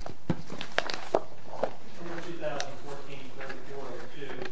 Pirosko Between May 24th and July 23rd, 2016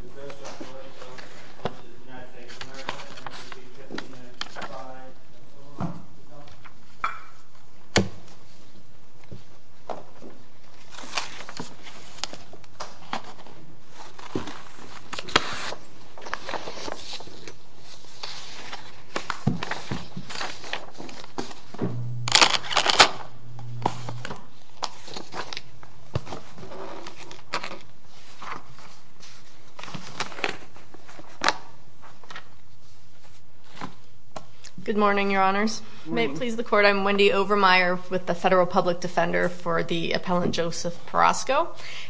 Good morning, your honors. May it please the court, I'm Wendy Overmeyer with the Federal Public Defender for the Appellant Joseph Pirosko.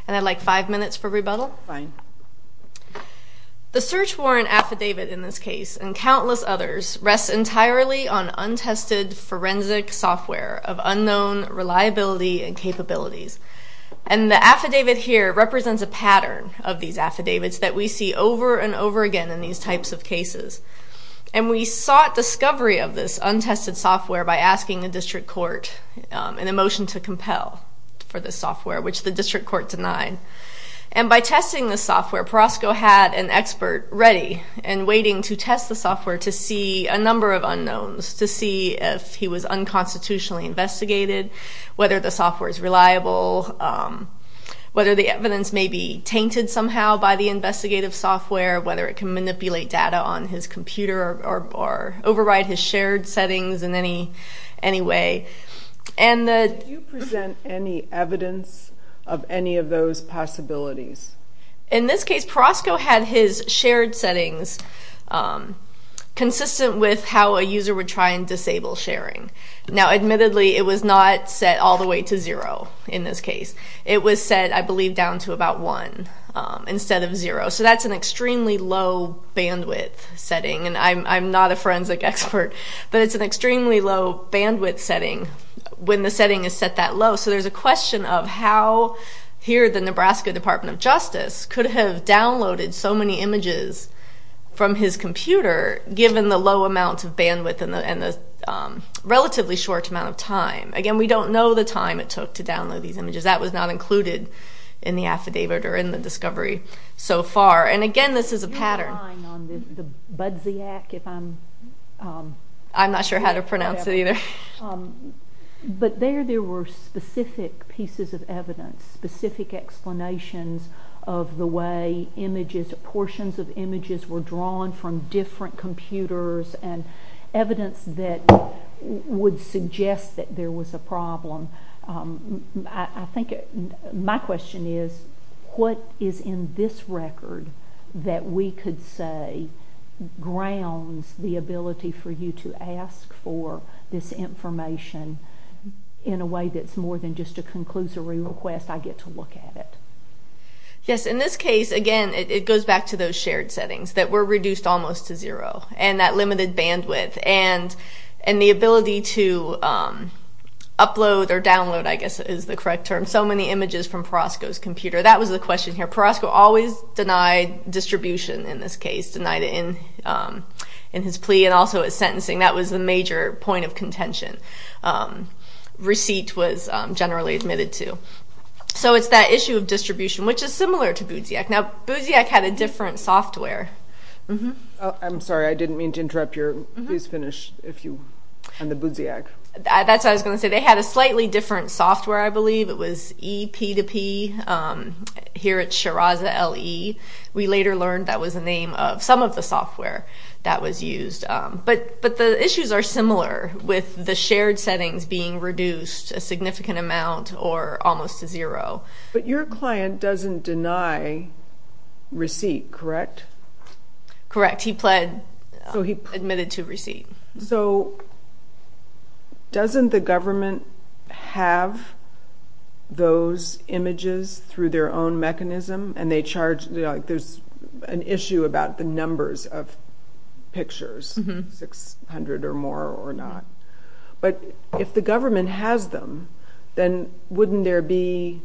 And I'd like five minutes for rebuttal. The search warrant affidavit in this case, and countless others, rests entirely on And the affidavit here represents a pattern of these affidavits that we see over and over again in these types of cases. And we sought discovery of this untested software by asking the district court in a motion to compel for the software, which the district court denied. And by testing the software, Pirosko had an expert ready and waiting to test the software to see a number of unknowns, to see if he was unconstitutionally investigated, whether the software is reliable, whether the evidence may be tainted somehow by the investigative software, whether it can manipulate data on his computer or override his shared settings in any way. And the... Do you present any evidence of any of those possibilities? In this case, Pirosko had his shared settings consistent with how a user would try and disable sharing. Now, admittedly, it was not set all the way to zero in this case. It was set, I believe, down to about one instead of zero. So that's an extremely low bandwidth setting, and I'm not a forensic expert, but it's an extremely low bandwidth setting when the setting is set that low. So there's a question of how here the Nebraska Department of Justice could have downloaded so many images from his computer, given the low amount of bandwidth and the relatively short amount of time. Again, we don't know the time it took to download these images. That was not included in the affidavit or in the discovery so far. And again, this is a pattern. Do you have a line on the Budziak, if I'm... I'm not sure how to pronounce it either. But there, there were specific pieces of evidence, specific explanations of the way images were used, portions of images were drawn from different computers, and evidence that would suggest that there was a problem. I think my question is, what is in this record that we could say grounds the ability for you to ask for this information in a way that's more than just a conclusory request, I get to look at it? Yes, in this case, again, it goes back to those shared settings that were reduced almost to zero, and that limited bandwidth, and the ability to upload or download, I guess is the correct term, so many images from Perosco's computer. That was the question here. Perosco always denied distribution in this case, denied it in his plea and also his sentencing. That was the major point of contention. Receipt was generally admitted to. So it's that issue of distribution, which is similar to BOOZIAC. Now BOOZIAC had a different software. I'm sorry, I didn't mean to interrupt your... Please finish if you... On the BOOZIAC. That's what I was going to say. They had a slightly different software, I believe. It was EP2P, here at Shiraz LE. We later learned that was the name of some of the software that was used. But the issues are similar with the shared settings being reduced a significant amount or almost to zero. But your client doesn't deny receipt, correct? Correct. He pled, admitted to receipt. So doesn't the government have those images through their own mechanism, and they charge... There's an issue about the numbers of pictures, 600 or more or not. But if the government has them, then wouldn't there be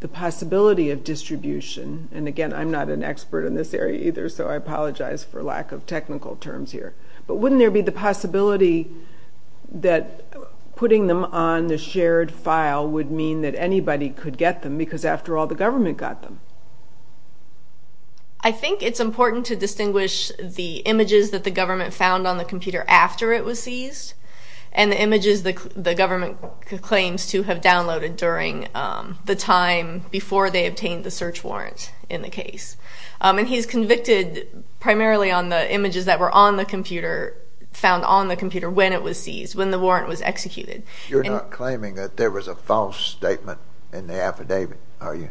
the possibility of distribution? And again, I'm not an expert in this area either, so I apologize for lack of technical terms here. But wouldn't there be the possibility that putting them on the shared file would mean that anybody could get them? Because after all, the government got them. I think it's important to distinguish the images that the government found on the computer after it was seized, and the images the government claims to have downloaded during the time before they obtained the search warrant in the case. And he's convicted primarily on the images that were on the computer, found on the computer when it was seized, when the warrant was executed. You're not claiming that there was a false statement in the affidavit, are you?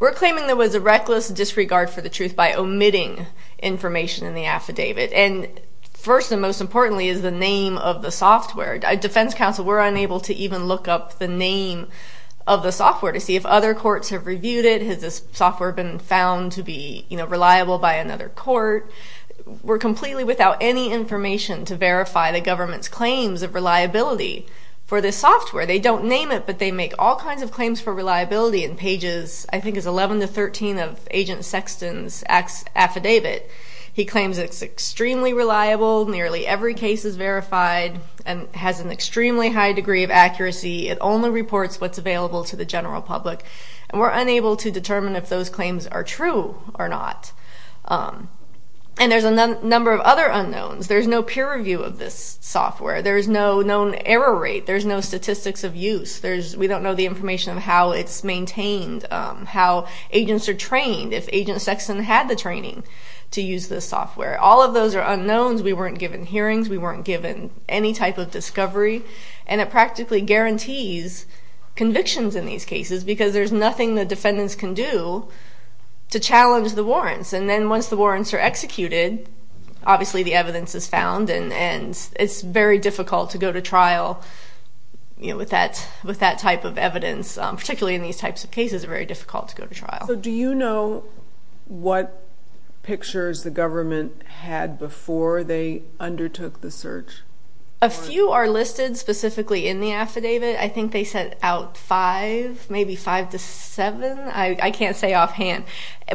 We're claiming there was a reckless disregard for the truth by omitting information in the affidavit. And first and most importantly is the name of the software. Defense counsel were unable to even look up the name of the software to see if other courts have reviewed it. Has this software been found to be reliable by another court? We're completely without any information to verify the government's claims of reliability for this software. They don't name it, but they make all kinds of claims for reliability in pages, I think it's 11 to 13 of Agent Sexton's affidavit. He claims it's extremely reliable, nearly every case is verified, and has an extremely high degree of accuracy. It only reports what's available to the general public, and we're unable to determine if those claims are true or not. And there's a number of other unknowns. There's no peer review of this software. There's no known error rate. There's no statistics of use. We don't know the information of how it's maintained, how agents are trained. If Agent Sexton had the training to use this software. All of those are unknowns. We weren't given hearings, we weren't given any type of discovery, and it practically guarantees convictions in these cases because there's nothing the defendants can do to challenge the warrants. And then once the warrants are executed, obviously the evidence is found, and it's very difficult to go to trial with that type of evidence, particularly in these types of cases, it's very difficult to go to trial. So do you know what pictures the government had before they undertook the search? A few are listed specifically in the affidavit. I think they set out five, maybe five to seven, I can't say offhand.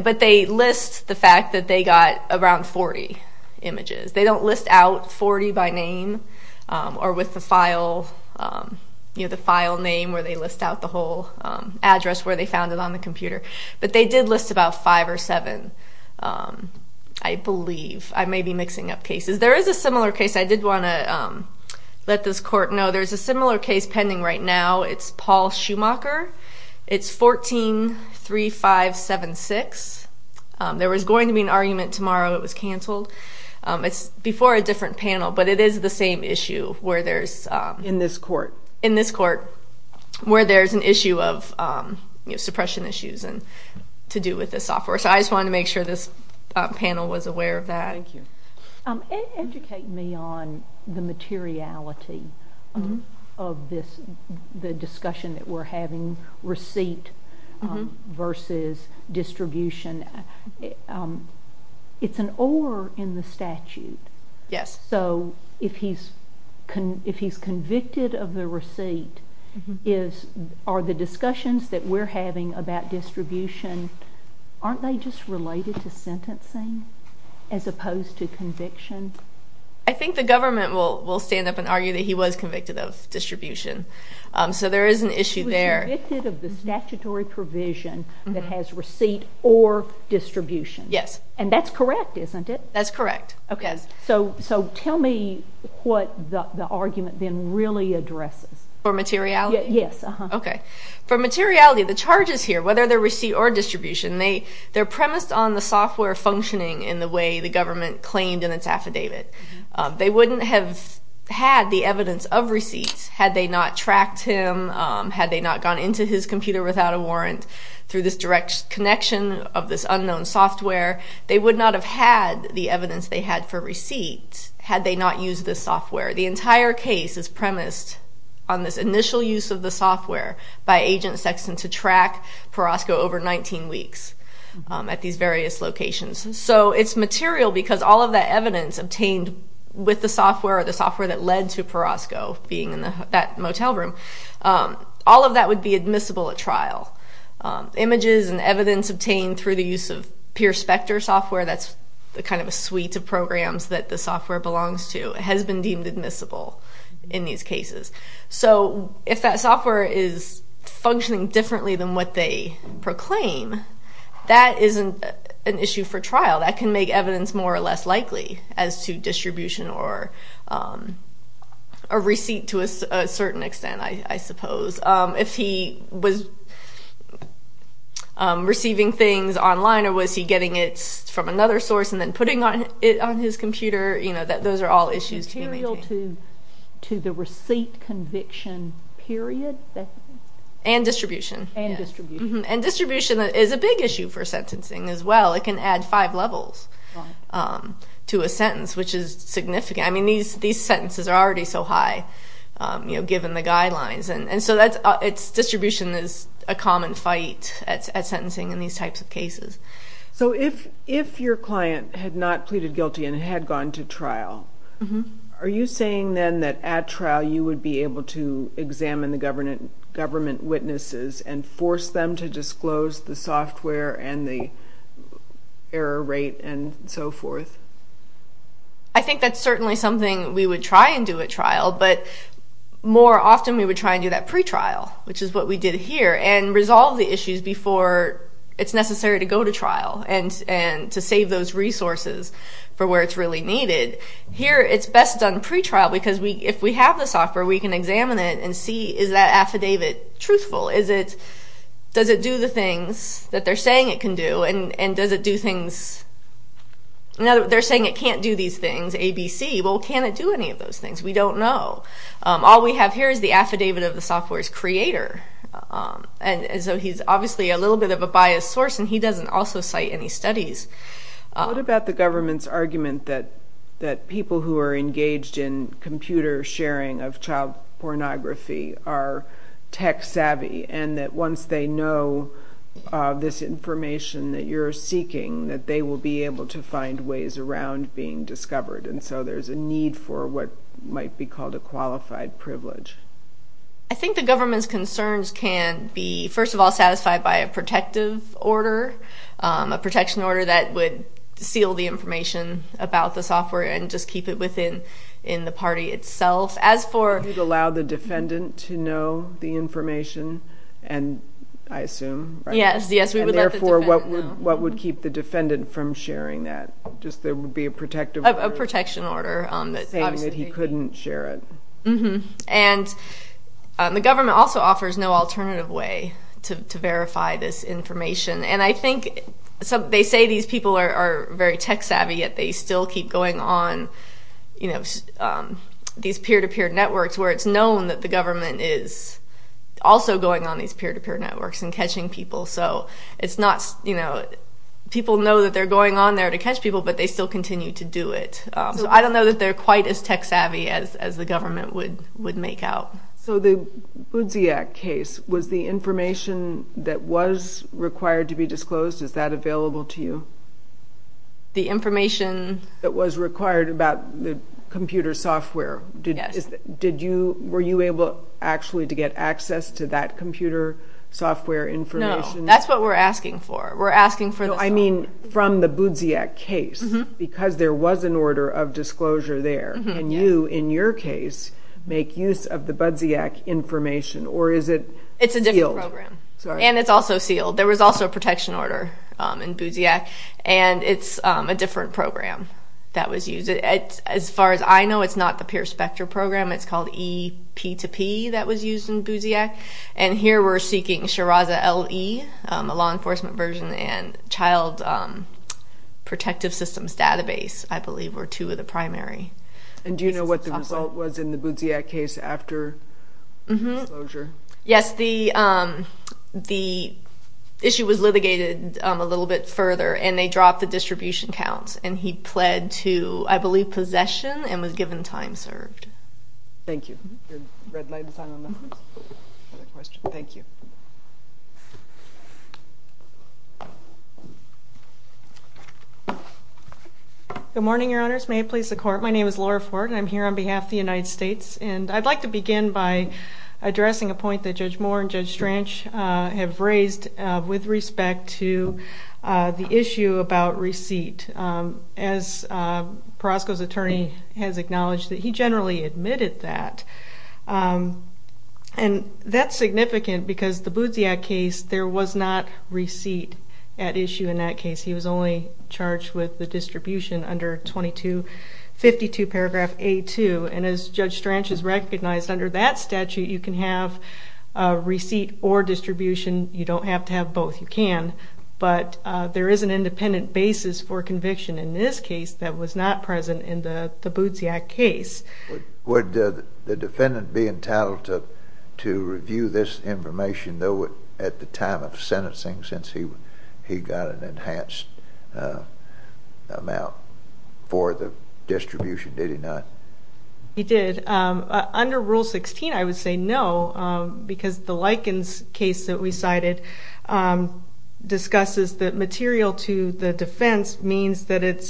But they list the fact that they got around 40 images. They don't list out 40 by name, or with the file name where they list out the whole address where they found it on the computer. But they did list about five or seven, I believe. I may be mixing up cases. There is a similar case. I did want to let this court know there's a similar case pending right now. It's Paul Schumacher. It's 14-3576. There was going to be an argument tomorrow, it was canceled. It's before a different panel, but it is the same issue where there's... In this court. In this court, where there's an issue of suppression issues to do with this software. So I just wanted to make sure this panel was aware of that. Thank you. Educate me on the materiality of the discussion that we're having, receipt versus distribution. It's an or in the statute. Yes. So if he's convicted of the receipt, are the discussions that we're having about distribution, aren't they just related to sentencing as opposed to conviction? I think the government will stand up and argue that he was convicted of distribution. So there is an issue there. He was convicted of the statutory provision that has receipt or distribution. Yes. And that's correct, isn't it? That's correct. So tell me what the argument then really addresses. For materiality? Yes. Okay. For materiality, the charges here, whether they're receipt or distribution, they're premised on the software functioning in the way the government claimed in its affidavit. They wouldn't have had the evidence of receipts had they not tracked him, had they not gone into his computer without a warrant through this direct connection of this unknown software. They would not have had the evidence they had for receipts had they not used this software. The entire case is premised on this initial use of the software by Agent Sexton to track Perasco over 19 weeks at these various locations. So it's material because all of that evidence obtained with the software or the software that led to Perasco being in that motel room, all of that would be admissible at trial. Images and evidence obtained through the use of PeerSpecter software, that's the kind of suite of programs that the software belongs to, has been deemed admissible in these cases. So if that software is functioning differently than what they proclaim, that isn't an issue for trial. That can make evidence more or less likely as to distribution or a receipt to a certain extent, I suppose. If he was receiving things online or was he getting it from another source and then putting it on his computer, those are all issues to be maintained. It's material to the receipt conviction period? And distribution. And distribution. And distribution is a big issue for sentencing as well. It can add five levels to a sentence, which is significant. These sentences are already so high given the guidelines. So distribution is a common fight at sentencing in these types of cases. So if your client had not pleaded guilty and had gone to trial, are you saying then that at trial you would be able to examine the government witnesses and force them to disclose the software and the error rate and so forth? I think that's certainly something we would try and do at trial, but more often we would try and do that pretrial, which is what we did here, and resolve the issues before it's necessary to go to trial and to save those resources for where it's really needed. Here it's best done pretrial because if we have the software, we can examine it and see is that affidavit truthful? Does it do the things that they're saying it can do? And does it do things? They're saying it can't do these things, A, B, C. Well, can it do any of those things? We don't know. All we have here is the affidavit of the software's creator, and so he's obviously a little bit of a biased source, and he doesn't also cite any studies. What about the government's argument that people who are engaged in computer sharing of child pornography are tech-savvy, and that once they know this information that you're seeking, that they will be able to find ways around being discovered, and so there's a part that might be called a qualified privilege? I think the government's concerns can be, first of all, satisfied by a protective order, a protection order that would seal the information about the software and just keep it within the party itself. As for... It would allow the defendant to know the information, and I assume, right? Yes, yes, we would let the defendant know. And therefore, what would keep the defendant from sharing that? Just there would be a protective order? A protection order. Saying that he couldn't share it. And the government also offers no alternative way to verify this information, and I think they say these people are very tech-savvy, yet they still keep going on these peer-to-peer networks where it's known that the government is also going on these peer-to-peer networks and catching people, so it's not... People know that they're going on there to catch people, but they still continue to do it. So I don't know that they're quite as tech-savvy as the government would make out. So the Boudziak case, was the information that was required to be disclosed, is that available to you? The information... That was required about the computer software, did you... Were you able, actually, to get access to that computer software information? No. That's what we're asking for. We're asking for the software. I mean, from the Boudziak case, because there was an order of disclosure there, can you, in your case, make use of the Boudziak information, or is it sealed? It's a different program. Sorry. And it's also sealed. There was also a protection order in Boudziak, and it's a different program that was used. As far as I know, it's not the PeerSpectre program. It's called eP2P that was used in Boudziak. And here, we're seeking Shiraza LE, a law enforcement version, and Child Protective Systems Database, I believe, were two of the primary pieces of software. And do you know what the result was in the Boudziak case after disclosure? Yes. The issue was litigated a little bit further, and they dropped the distribution counts, and he pled to, I believe, possession, and was given time served. Thank you. Your red light is on on that one. Another question. Thank you. Good morning, Your Honors. May it please the Court. My name is Laura Ford, and I'm here on behalf of the United States. And I'd like to begin by addressing a point that Judge Moore and Judge Stranch have raised with respect to the issue about receipt. As Perasco's attorney has acknowledged that he generally admitted that. And that's significant because the Boudziak case, there was not receipt at issue in that case. He was only charged with the distribution under 2252 paragraph A2. And as Judge Stranch has recognized, under that statute, you can have a receipt or distribution. You don't have to have both. You can. But there is an independent basis for conviction in this case that was not present in the Boudziak case. Would the defendant be entitled to review this information, though, at the time of sentencing since he got an enhanced amount for the distribution? Did he not? He did. Under Rule 16, I would say no because the Likens case that we cited discusses that material to the defense means that it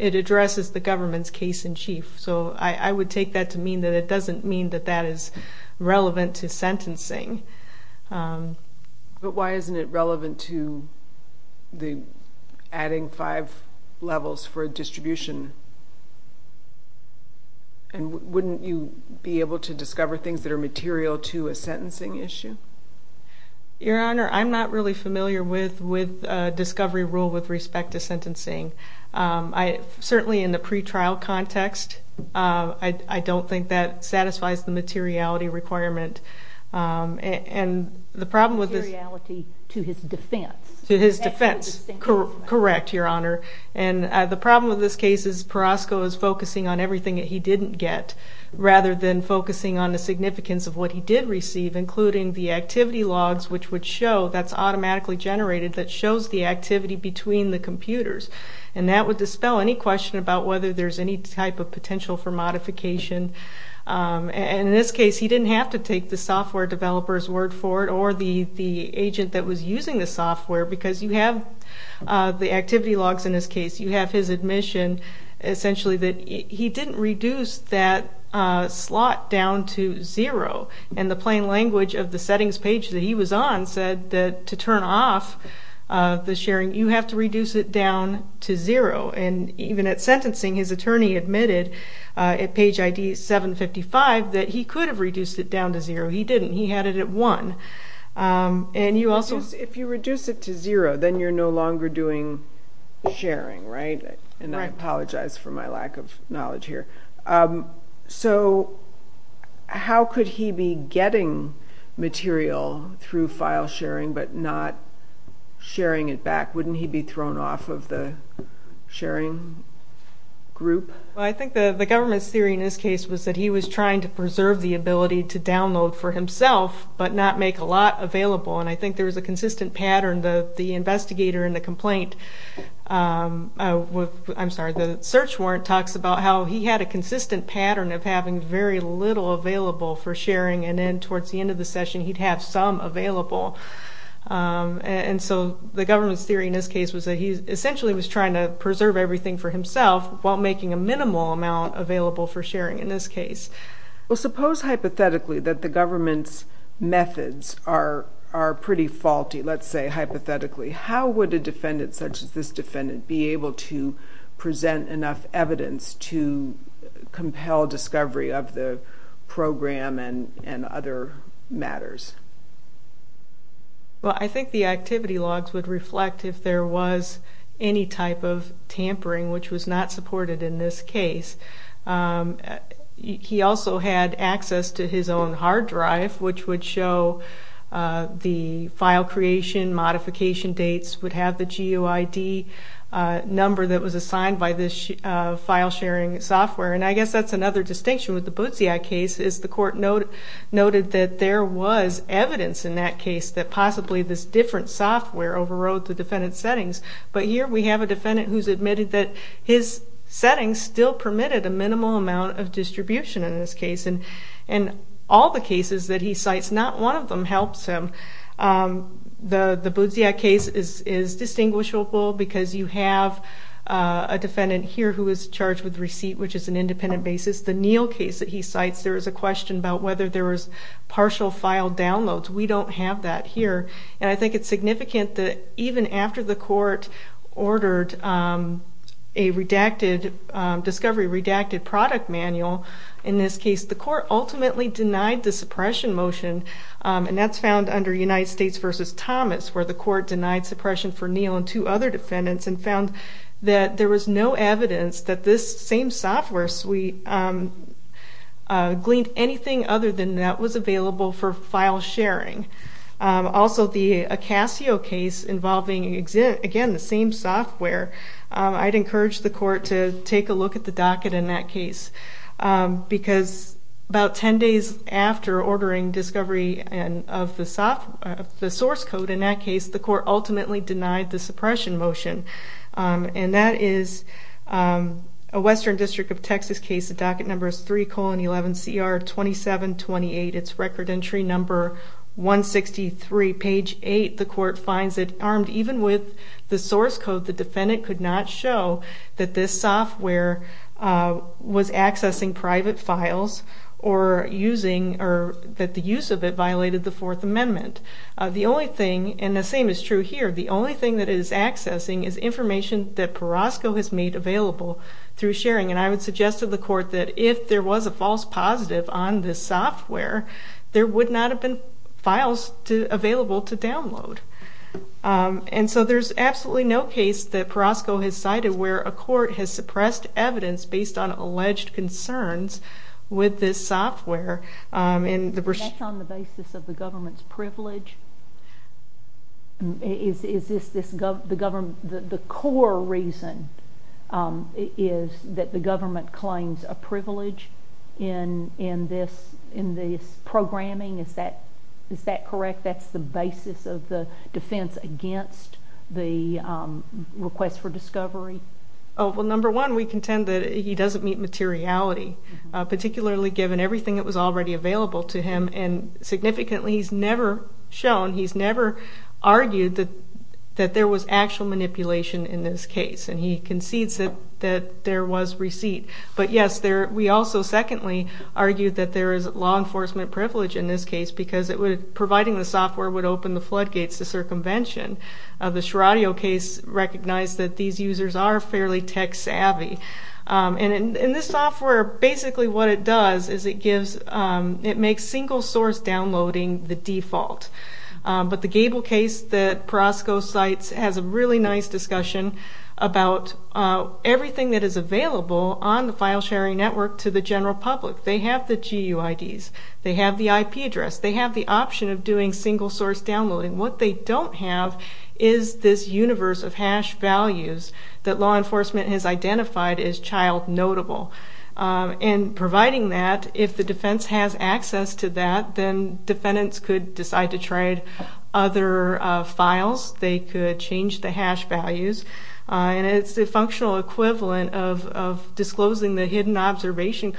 addresses the government's case-in-chief. So I would take that to mean that it doesn't mean that that is relevant to sentencing. But why isn't it relevant to the adding five levels for a distribution? And wouldn't you be able to discover things that are material to a sentencing issue? Your Honor, I'm not really familiar with discovery rule with respect to sentencing. Certainly in the pre-trial context, I don't think that satisfies the materiality requirement. And the problem with this... Materiality to his defense. To his defense. Correct, Your Honor. And the problem with this case is Perosco is focusing on everything that he didn't get rather than focusing on the significance of what he did receive, including the activity logs, which would show, that's automatically generated, that shows the activity between And the problem with this... Materiality to his defense. To his defense. And that would dispel any question about whether there's any type of potential for modification. And in this case, he didn't have to take the software developer's word for it, or the agent that was using the software, because you have the activity logs in this case. You have his admission, essentially, that he didn't reduce that slot down to zero. And the plain language of the settings page that he was on said that to turn off the sharing, you have to reduce it down to zero. And even at sentencing, his attorney admitted at page ID 755 that he could have reduced it down to zero. He didn't. He had it at one. And you also... If you reduce it to zero, then you're no longer doing sharing, right? Right. And I apologize for my lack of knowledge here. So how could he be getting material through file sharing but not sharing it back? Wouldn't he be thrown off of the sharing group? I think the government's theory in this case was that he was trying to preserve the ability to download for himself, but not make a lot available. And I think there was a consistent pattern. The investigator in the complaint, I'm sorry, the search warrant talks about how he had a consistent pattern of having very little available for sharing. And then towards the end of the session, he'd have some available. And so the government's theory in this case was that he essentially was trying to preserve everything for himself while making a minimal amount available for sharing in this case. Well, suppose hypothetically that the government's methods are pretty faulty, let's say hypothetically, how would a defendant such as this defendant be able to present enough evidence to compel discovery of the program and other matters? Well, I think the activity logs would reflect if there was any type of tampering, which was not supported in this case. He also had access to his own hard drive, which would show the file creation, modification dates would have the GUID number that was assigned by this file sharing software. And I guess that's another distinction with the Bootsy Act case is the court noted that there was evidence in that case that possibly this different software overrode the defendant's settings. But here we have a defendant who's admitted that his settings still permitted a minimal amount of distribution in this case. And all the cases that he cites, not one of them helps him. The Bootsy Act case is distinguishable because you have a defendant here who was charged with receipt, which is an independent basis. The Neal case that he cites, there was a question about whether there was partial file downloads. We don't have that here. And I think it's significant that even after the court ordered a discovery redacted product manual in this case, the court ultimately denied the suppression motion. And that's found under United States versus Thomas, where the court denied suppression for Neal and two other defendants and found that there was no evidence that this same software gleaned anything other than that was available for file sharing. Also the Acasio case involving, again, the same software, I'd encourage the court to take a look at the docket in that case. Because about 10 days after ordering discovery of the source code in that case, the court ultimately denied the suppression motion. And that is a Western District of Texas case. The docket number is 3-11-CR-2728. It's record entry number 163. Page eight, the court finds that armed even with the source code, the defendant could not show that this software was accessing private files or that the use of it violated the Fourth Amendment. The only thing, and the same is true here, the only thing that it is accessing is information that Perasco has made available through sharing. And I would suggest to the court that if there was a false positive on this software, there would not have been files available to download. And so there's absolutely no case that Perasco has cited where a court has suppressed evidence based on alleged concerns with this software. And that's on the basis of the government's privilege? Is this the government, the core reason is that the government claims a privilege in this programming? Is that correct? That's the basis of the defense against the request for discovery? Oh, well, number one, we contend that he doesn't meet materiality, particularly given everything that was already available to him. And significantly, he's never shown, he's never argued that there was actual manipulation in this case. And he concedes that there was receipt. But yes, we also secondly argue that there is law enforcement privilege in this case because providing the software would open the floodgates to circumvention. The Sheradio case recognized that these users are fairly tech savvy. And in this software, basically what it does is it gives, it makes single source downloading the default. But the Gable case that Perasco cites has a really nice discussion about everything that is available on the file sharing network to the general public. They have the GUIDs. They have the IP address. They have the option of doing single source downloading. What they don't have is this universe of hash values that law enforcement has identified as child notable. And providing that, if the defense has access to that, then defendants could decide to try other files. They could change the hash values. And it's the functional equivalent of disclosing the hidden observation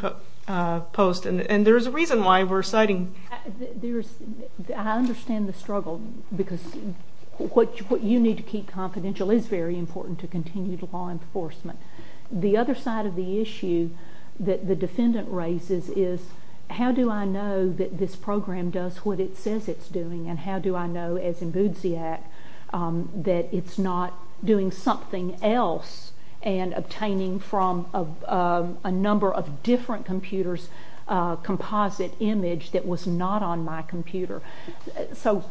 post. And there's a reason why we're citing... I understand the struggle because what you need to keep confidential is very important to continued law enforcement. The other side of the issue that the defendant raises is how do I know that this program does what it says it's doing and how do I know, as in Boudziak, that it's not doing something else and obtaining from a number of different computers a composite image that was not on my computer. So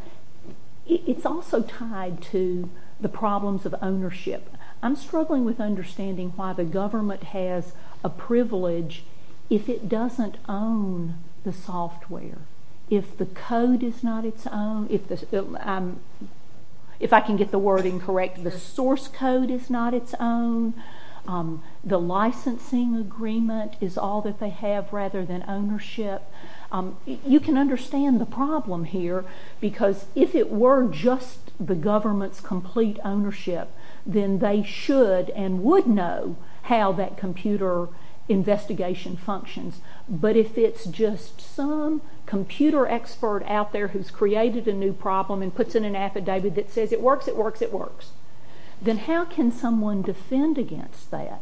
it's also tied to the problems of ownership. I'm struggling with understanding why the government has a privilege if it doesn't own the software, if the code is not its own. If I can get the wording correct, the source code is not its own. The licensing agreement is all that they have rather than ownership. You can understand the problem here because if it were just the government's complete ownership, then they should and would know how that computer investigation functions. But if it's just some computer expert out there who's created a new problem and puts in an affidavit that says it works, it works, it works, then how can someone defend against that?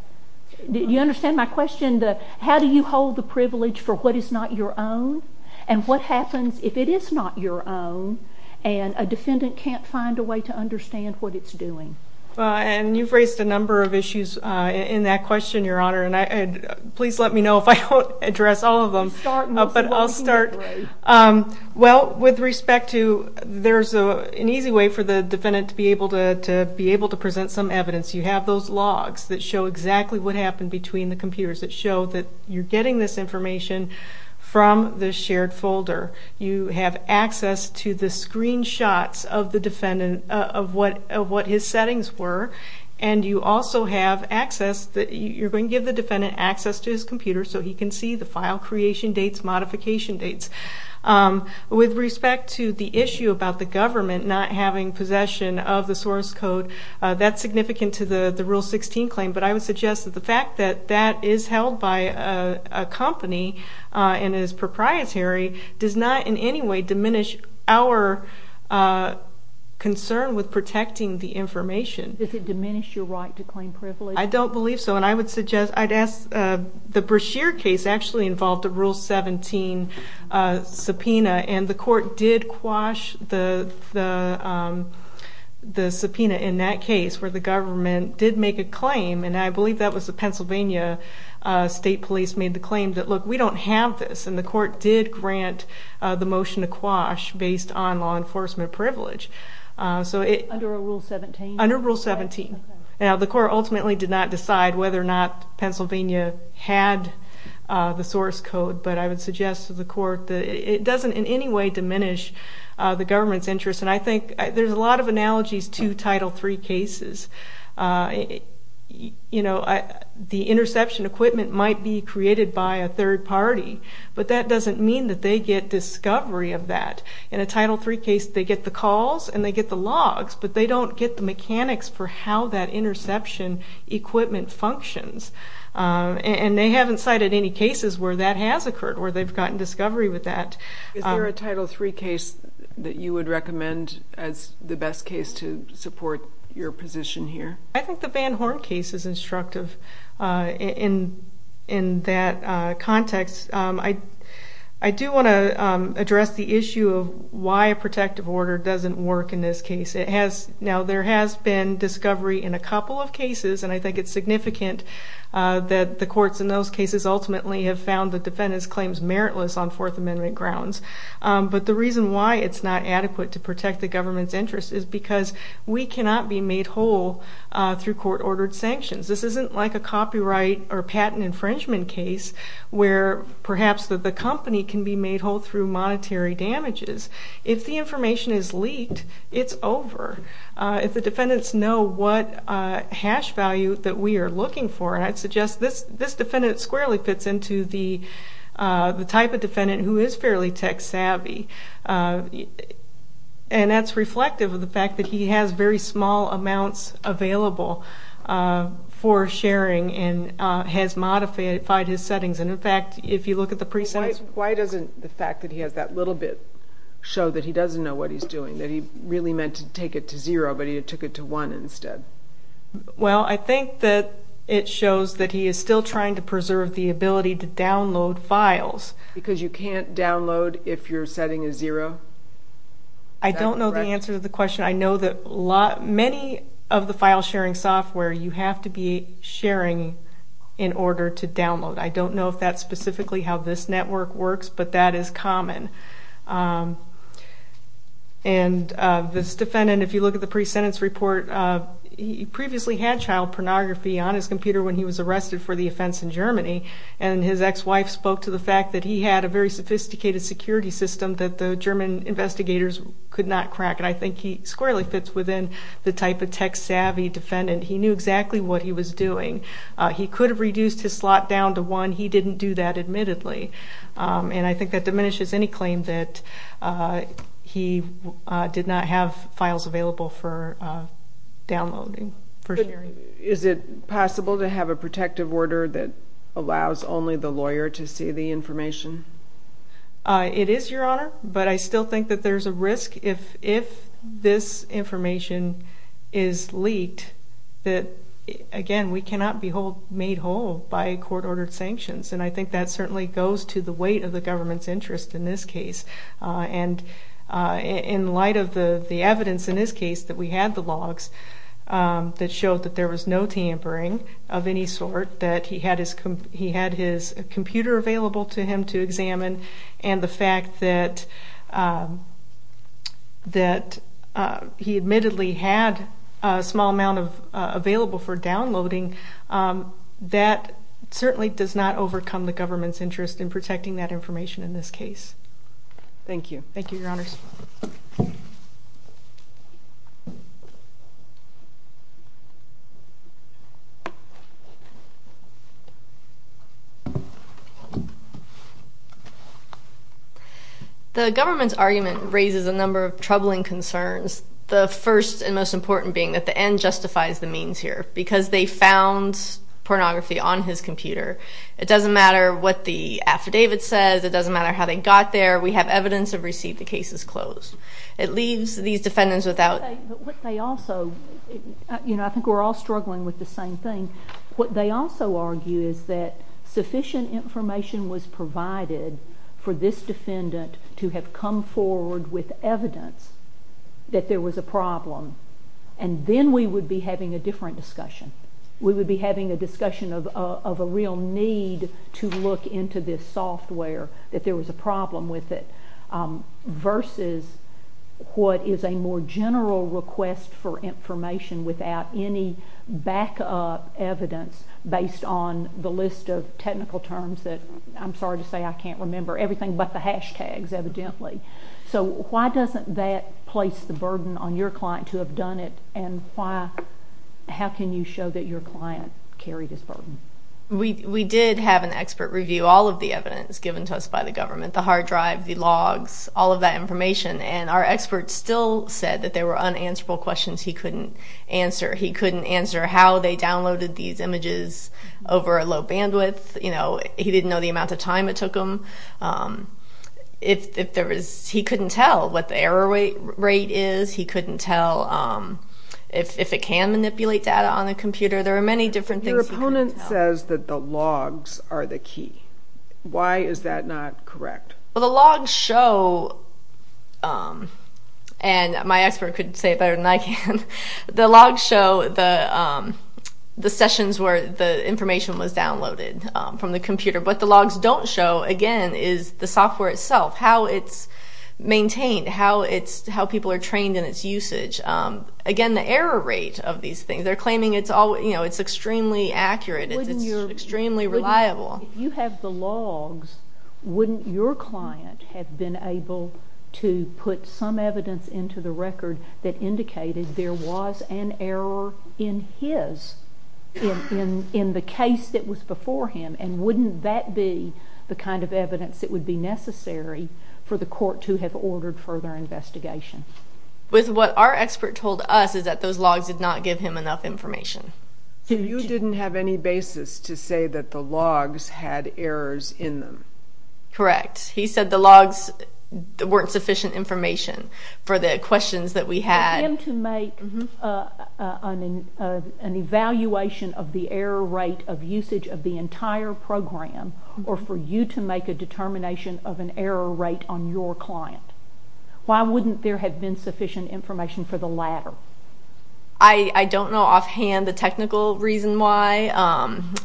You understand my question? How do you hold the privilege for what is not your own? And what happens if it is not your own and a defendant can't find a way to understand what it's doing? And you've raised a number of issues in that question, Your Honor, and please let me know if I don't address all of them, but I'll start. Well, with respect to, there's an easy way for the defendant to be able to present some evidence. You have those logs that show exactly what happened between the computers that show that you're getting this information from the shared folder. You have access to the screenshots of the defendant, of what his settings were. And you also have access, you're going to give the defendant access to his computer so he can see the file creation dates, modification dates. With respect to the issue about the government not having possession of the source code, that's significant to the Rule 16 claim, but I would suggest that the fact that that is held by a company and is proprietary does not in any way diminish our concern with protecting the information. Does it diminish your right to claim privilege? I don't believe so. And I would suggest, I'd ask, the Brashear case actually involved a Rule 17 subpoena and the court did quash the subpoena in that case where the government did make a claim, and I believe that was the Pennsylvania State Police made the claim that, look, we don't have this. And the court did grant the motion to quash based on law enforcement privilege. So it... Under a Rule 17? Under Rule 17. Now, the court ultimately did not decide whether or not Pennsylvania had the source code, but I would suggest to the court that it doesn't in any way diminish the government's interest. And I think there's a lot of analogies to Title III cases. You know, the interception equipment might be created by a third party, but that doesn't mean that they get discovery of that. In a Title III case, they get the calls and they get the logs, but they don't get the mechanics for how that interception equipment functions. And they haven't cited any cases where that has occurred, where they've gotten discovery with that. Is there a Title III case that you would recommend as the best case to support your position here? I think the Van Horn case is instructive in that context. I do want to address the issue of why a protective order doesn't work in this case. Now, there has been discovery in a couple of cases, and I think it's significant that the courts in those cases ultimately have found the defendant's claims meritless on Fourth Amendment grounds. But the reason why it's not adequate to protect the government's interest is because we cannot be made whole through court-ordered sanctions. This isn't like a copyright or patent infringement case where perhaps the company can be made whole through monetary damages. If the information is leaked, it's over. If the defendants know what hash value that we are looking for, I'd suggest this defendant squarely fits into the type of defendant who is fairly tech-savvy, and that's reflective of the fact that he has very small amounts available for sharing and has modified his settings. Why doesn't the fact that he has that little bit show that he doesn't know what he's doing, that he really meant to take it to zero, but he took it to one instead? Well, I think that it shows that he is still trying to preserve the ability to download files. Because you can't download if your setting is zero? I don't know the answer to the question. I know that many of the file-sharing software you have to be sharing in order to download. I don't know if that's specifically how this network works, but that is common. This defendant, if you look at the pre-sentence report, he previously had child pornography on his computer when he was arrested for the offense in Germany, and his ex-wife spoke to the fact that he had a very sophisticated security system that the German investigators could not crack. I think he squarely fits within the type of tech-savvy defendant. He knew exactly what he was doing. He could have reduced his slot down to one. He didn't do that, admittedly, and I think that diminishes any claim that he did not have files available for downloading, for sharing. Is it possible to have a protective order that allows only the lawyer to see the information? It is, Your Honor, but I still think that there's a risk if this information is leaked that, again, we cannot be made whole by court-ordered sanctions, and I think that certainly goes to the weight of the government's interest in this case. In light of the evidence in this case that we had the logs that showed that there was no tampering of any sort, that he had his computer available to him to examine, and the fact that he admittedly had a small amount available for downloading, that certainly does not overcome the government's interest in protecting that information in this case. Thank you. Thank you, Your Honors. The government's argument raises a number of troubling concerns, the first and most important being that the end justifies the means here, because they found pornography on his computer. It doesn't matter what the affidavit says. It doesn't matter how they got there. We have evidence of receipt. The case is closed. It leaves these defendants without- But what they also, you know, I think we're all struggling with the same thing. What they also argue is that sufficient information was provided for this defendant to have come forward with evidence that there was a problem, and then we would be having a different discussion. We would be having a discussion of a real need to look into this software, that there was a problem with it, versus what is a more general request for information without any backup evidence based on the list of technical terms that, I'm sorry to say I can't remember, everything but the hashtags, evidently. So why doesn't that place the burden on your client to have done it, and how can you show that your client carried this burden? We did have an expert review all of the evidence given to us by the government, the hard drive, the logs, all of that information, and our expert still said that there were unanswerable questions he couldn't answer. How they downloaded these images over a low bandwidth, you know, he didn't know the amount of time it took him. He couldn't tell what the error rate is. He couldn't tell if it can manipulate data on a computer. There are many different things he couldn't tell. Your opponent says that the logs are the key. Why is that not correct? Well, the logs show, and my expert could say it better than I can, the logs show the sessions where the information was downloaded from the computer. What the logs don't show, again, is the software itself, how it's maintained, how people are trained in its usage. Again, the error rate of these things, they're claiming it's extremely accurate, it's extremely reliable. If you have the logs, wouldn't your client have been able to put some evidence into the record that indicated there was an error in his, in the case that was before him, and wouldn't that be the kind of evidence that would be necessary for the court to have ordered further investigation? With what our expert told us is that those logs did not give him enough information. You didn't have any basis to say that the logs had errors in them. Correct. He said the logs weren't sufficient information for the questions that we had. For him to make an evaluation of the error rate of usage of the entire program, or for you to make a determination of an error rate on your client, why wouldn't there have been sufficient information for the latter? I don't know offhand the technical reason why.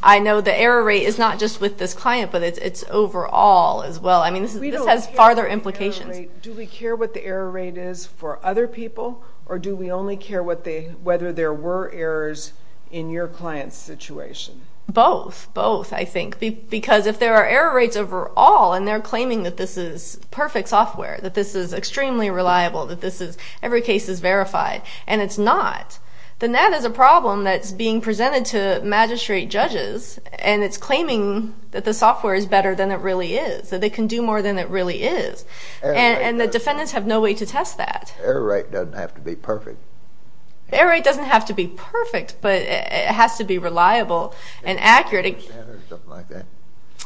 I know the error rate is not just with this client, but it's overall as well. I mean, this has farther implications. Do we care what the error rate is for other people, or do we only care whether there were errors in your client's situation? Both. Both, I think. Because if there are error rates overall, and they're claiming that this is perfect and reliable, that every case is verified, and it's not, then that is a problem that's being presented to magistrate judges, and it's claiming that the software is better than it really is, that they can do more than it really is. And the defendants have no way to test that. Error rate doesn't have to be perfect. Error rate doesn't have to be perfect, but it has to be reliable and accurate. Is it a percent or something like that?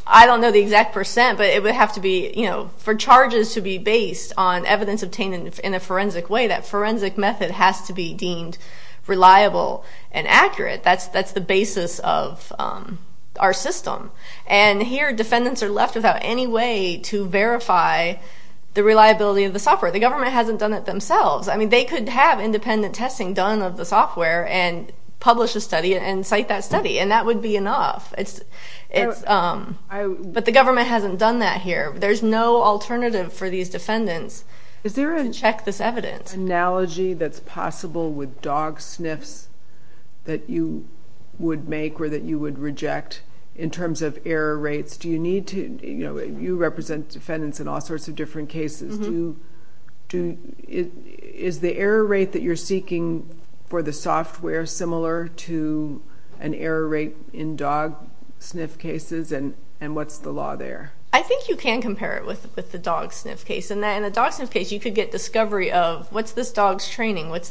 I don't know the exact percent, but it would have to be, you know, for charges to be based on evidence obtained in a forensic way, that forensic method has to be deemed reliable and accurate. That's the basis of our system. And here, defendants are left without any way to verify the reliability of the software. The government hasn't done it themselves. I mean, they could have independent testing done of the software and publish a study and cite that study, and that would be enough. But the government hasn't done that here. There's no alternative for these defendants to check this evidence. Is there an analogy that's possible with dog sniffs that you would make or that you would reject in terms of error rates? Do you need to, you know, you represent defendants in all sorts of different cases. Is the error rate that you're seeking for the software similar to an error rate in dog sniff cases, and what's the law there? I think you can compare it with the dog sniff case. In the dog sniff case, you could get discovery of what's this dog's training? Has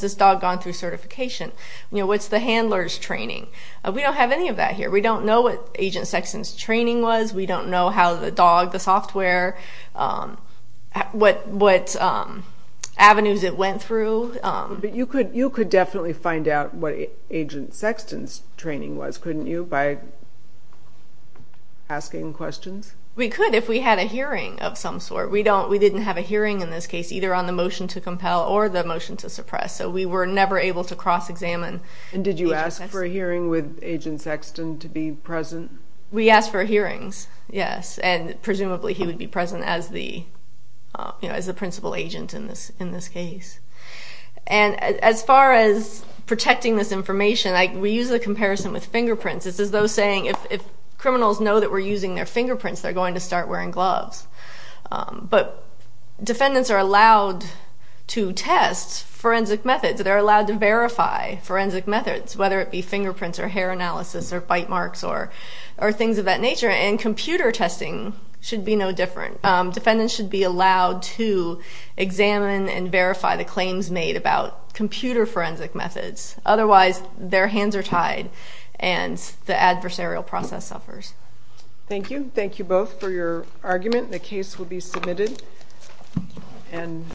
this dog gone through certification? You know, what's the handler's training? We don't have any of that here. We don't know what Agent Sexton's training was. We don't know how the dog, the software, what avenues it went through. But you could definitely find out what Agent Sexton's training was, couldn't you, by asking questions? We could if we had a hearing of some sort. We didn't have a hearing in this case, either on the motion to compel or the motion to suppress, so we were never able to cross-examine Agent Sexton. And did you ask for a hearing with Agent Sexton to be present? We asked for hearings, yes, and presumably he would be present as the principal agent in this case. And as far as protecting this information, we use the comparison with fingerprints. It's as though saying if criminals know that we're using their fingerprints, they're going to start wearing gloves. But defendants are allowed to test forensic methods. They're allowed to verify forensic methods, whether it be fingerprints or hair analysis or bite marks or things of that nature. And computer testing should be no different. Defendants should be allowed to examine and verify the claims made about computer forensic methods. Otherwise, their hands are tied and the adversarial process suffers. Thank you. Thank you both for your argument. The case will be submitted.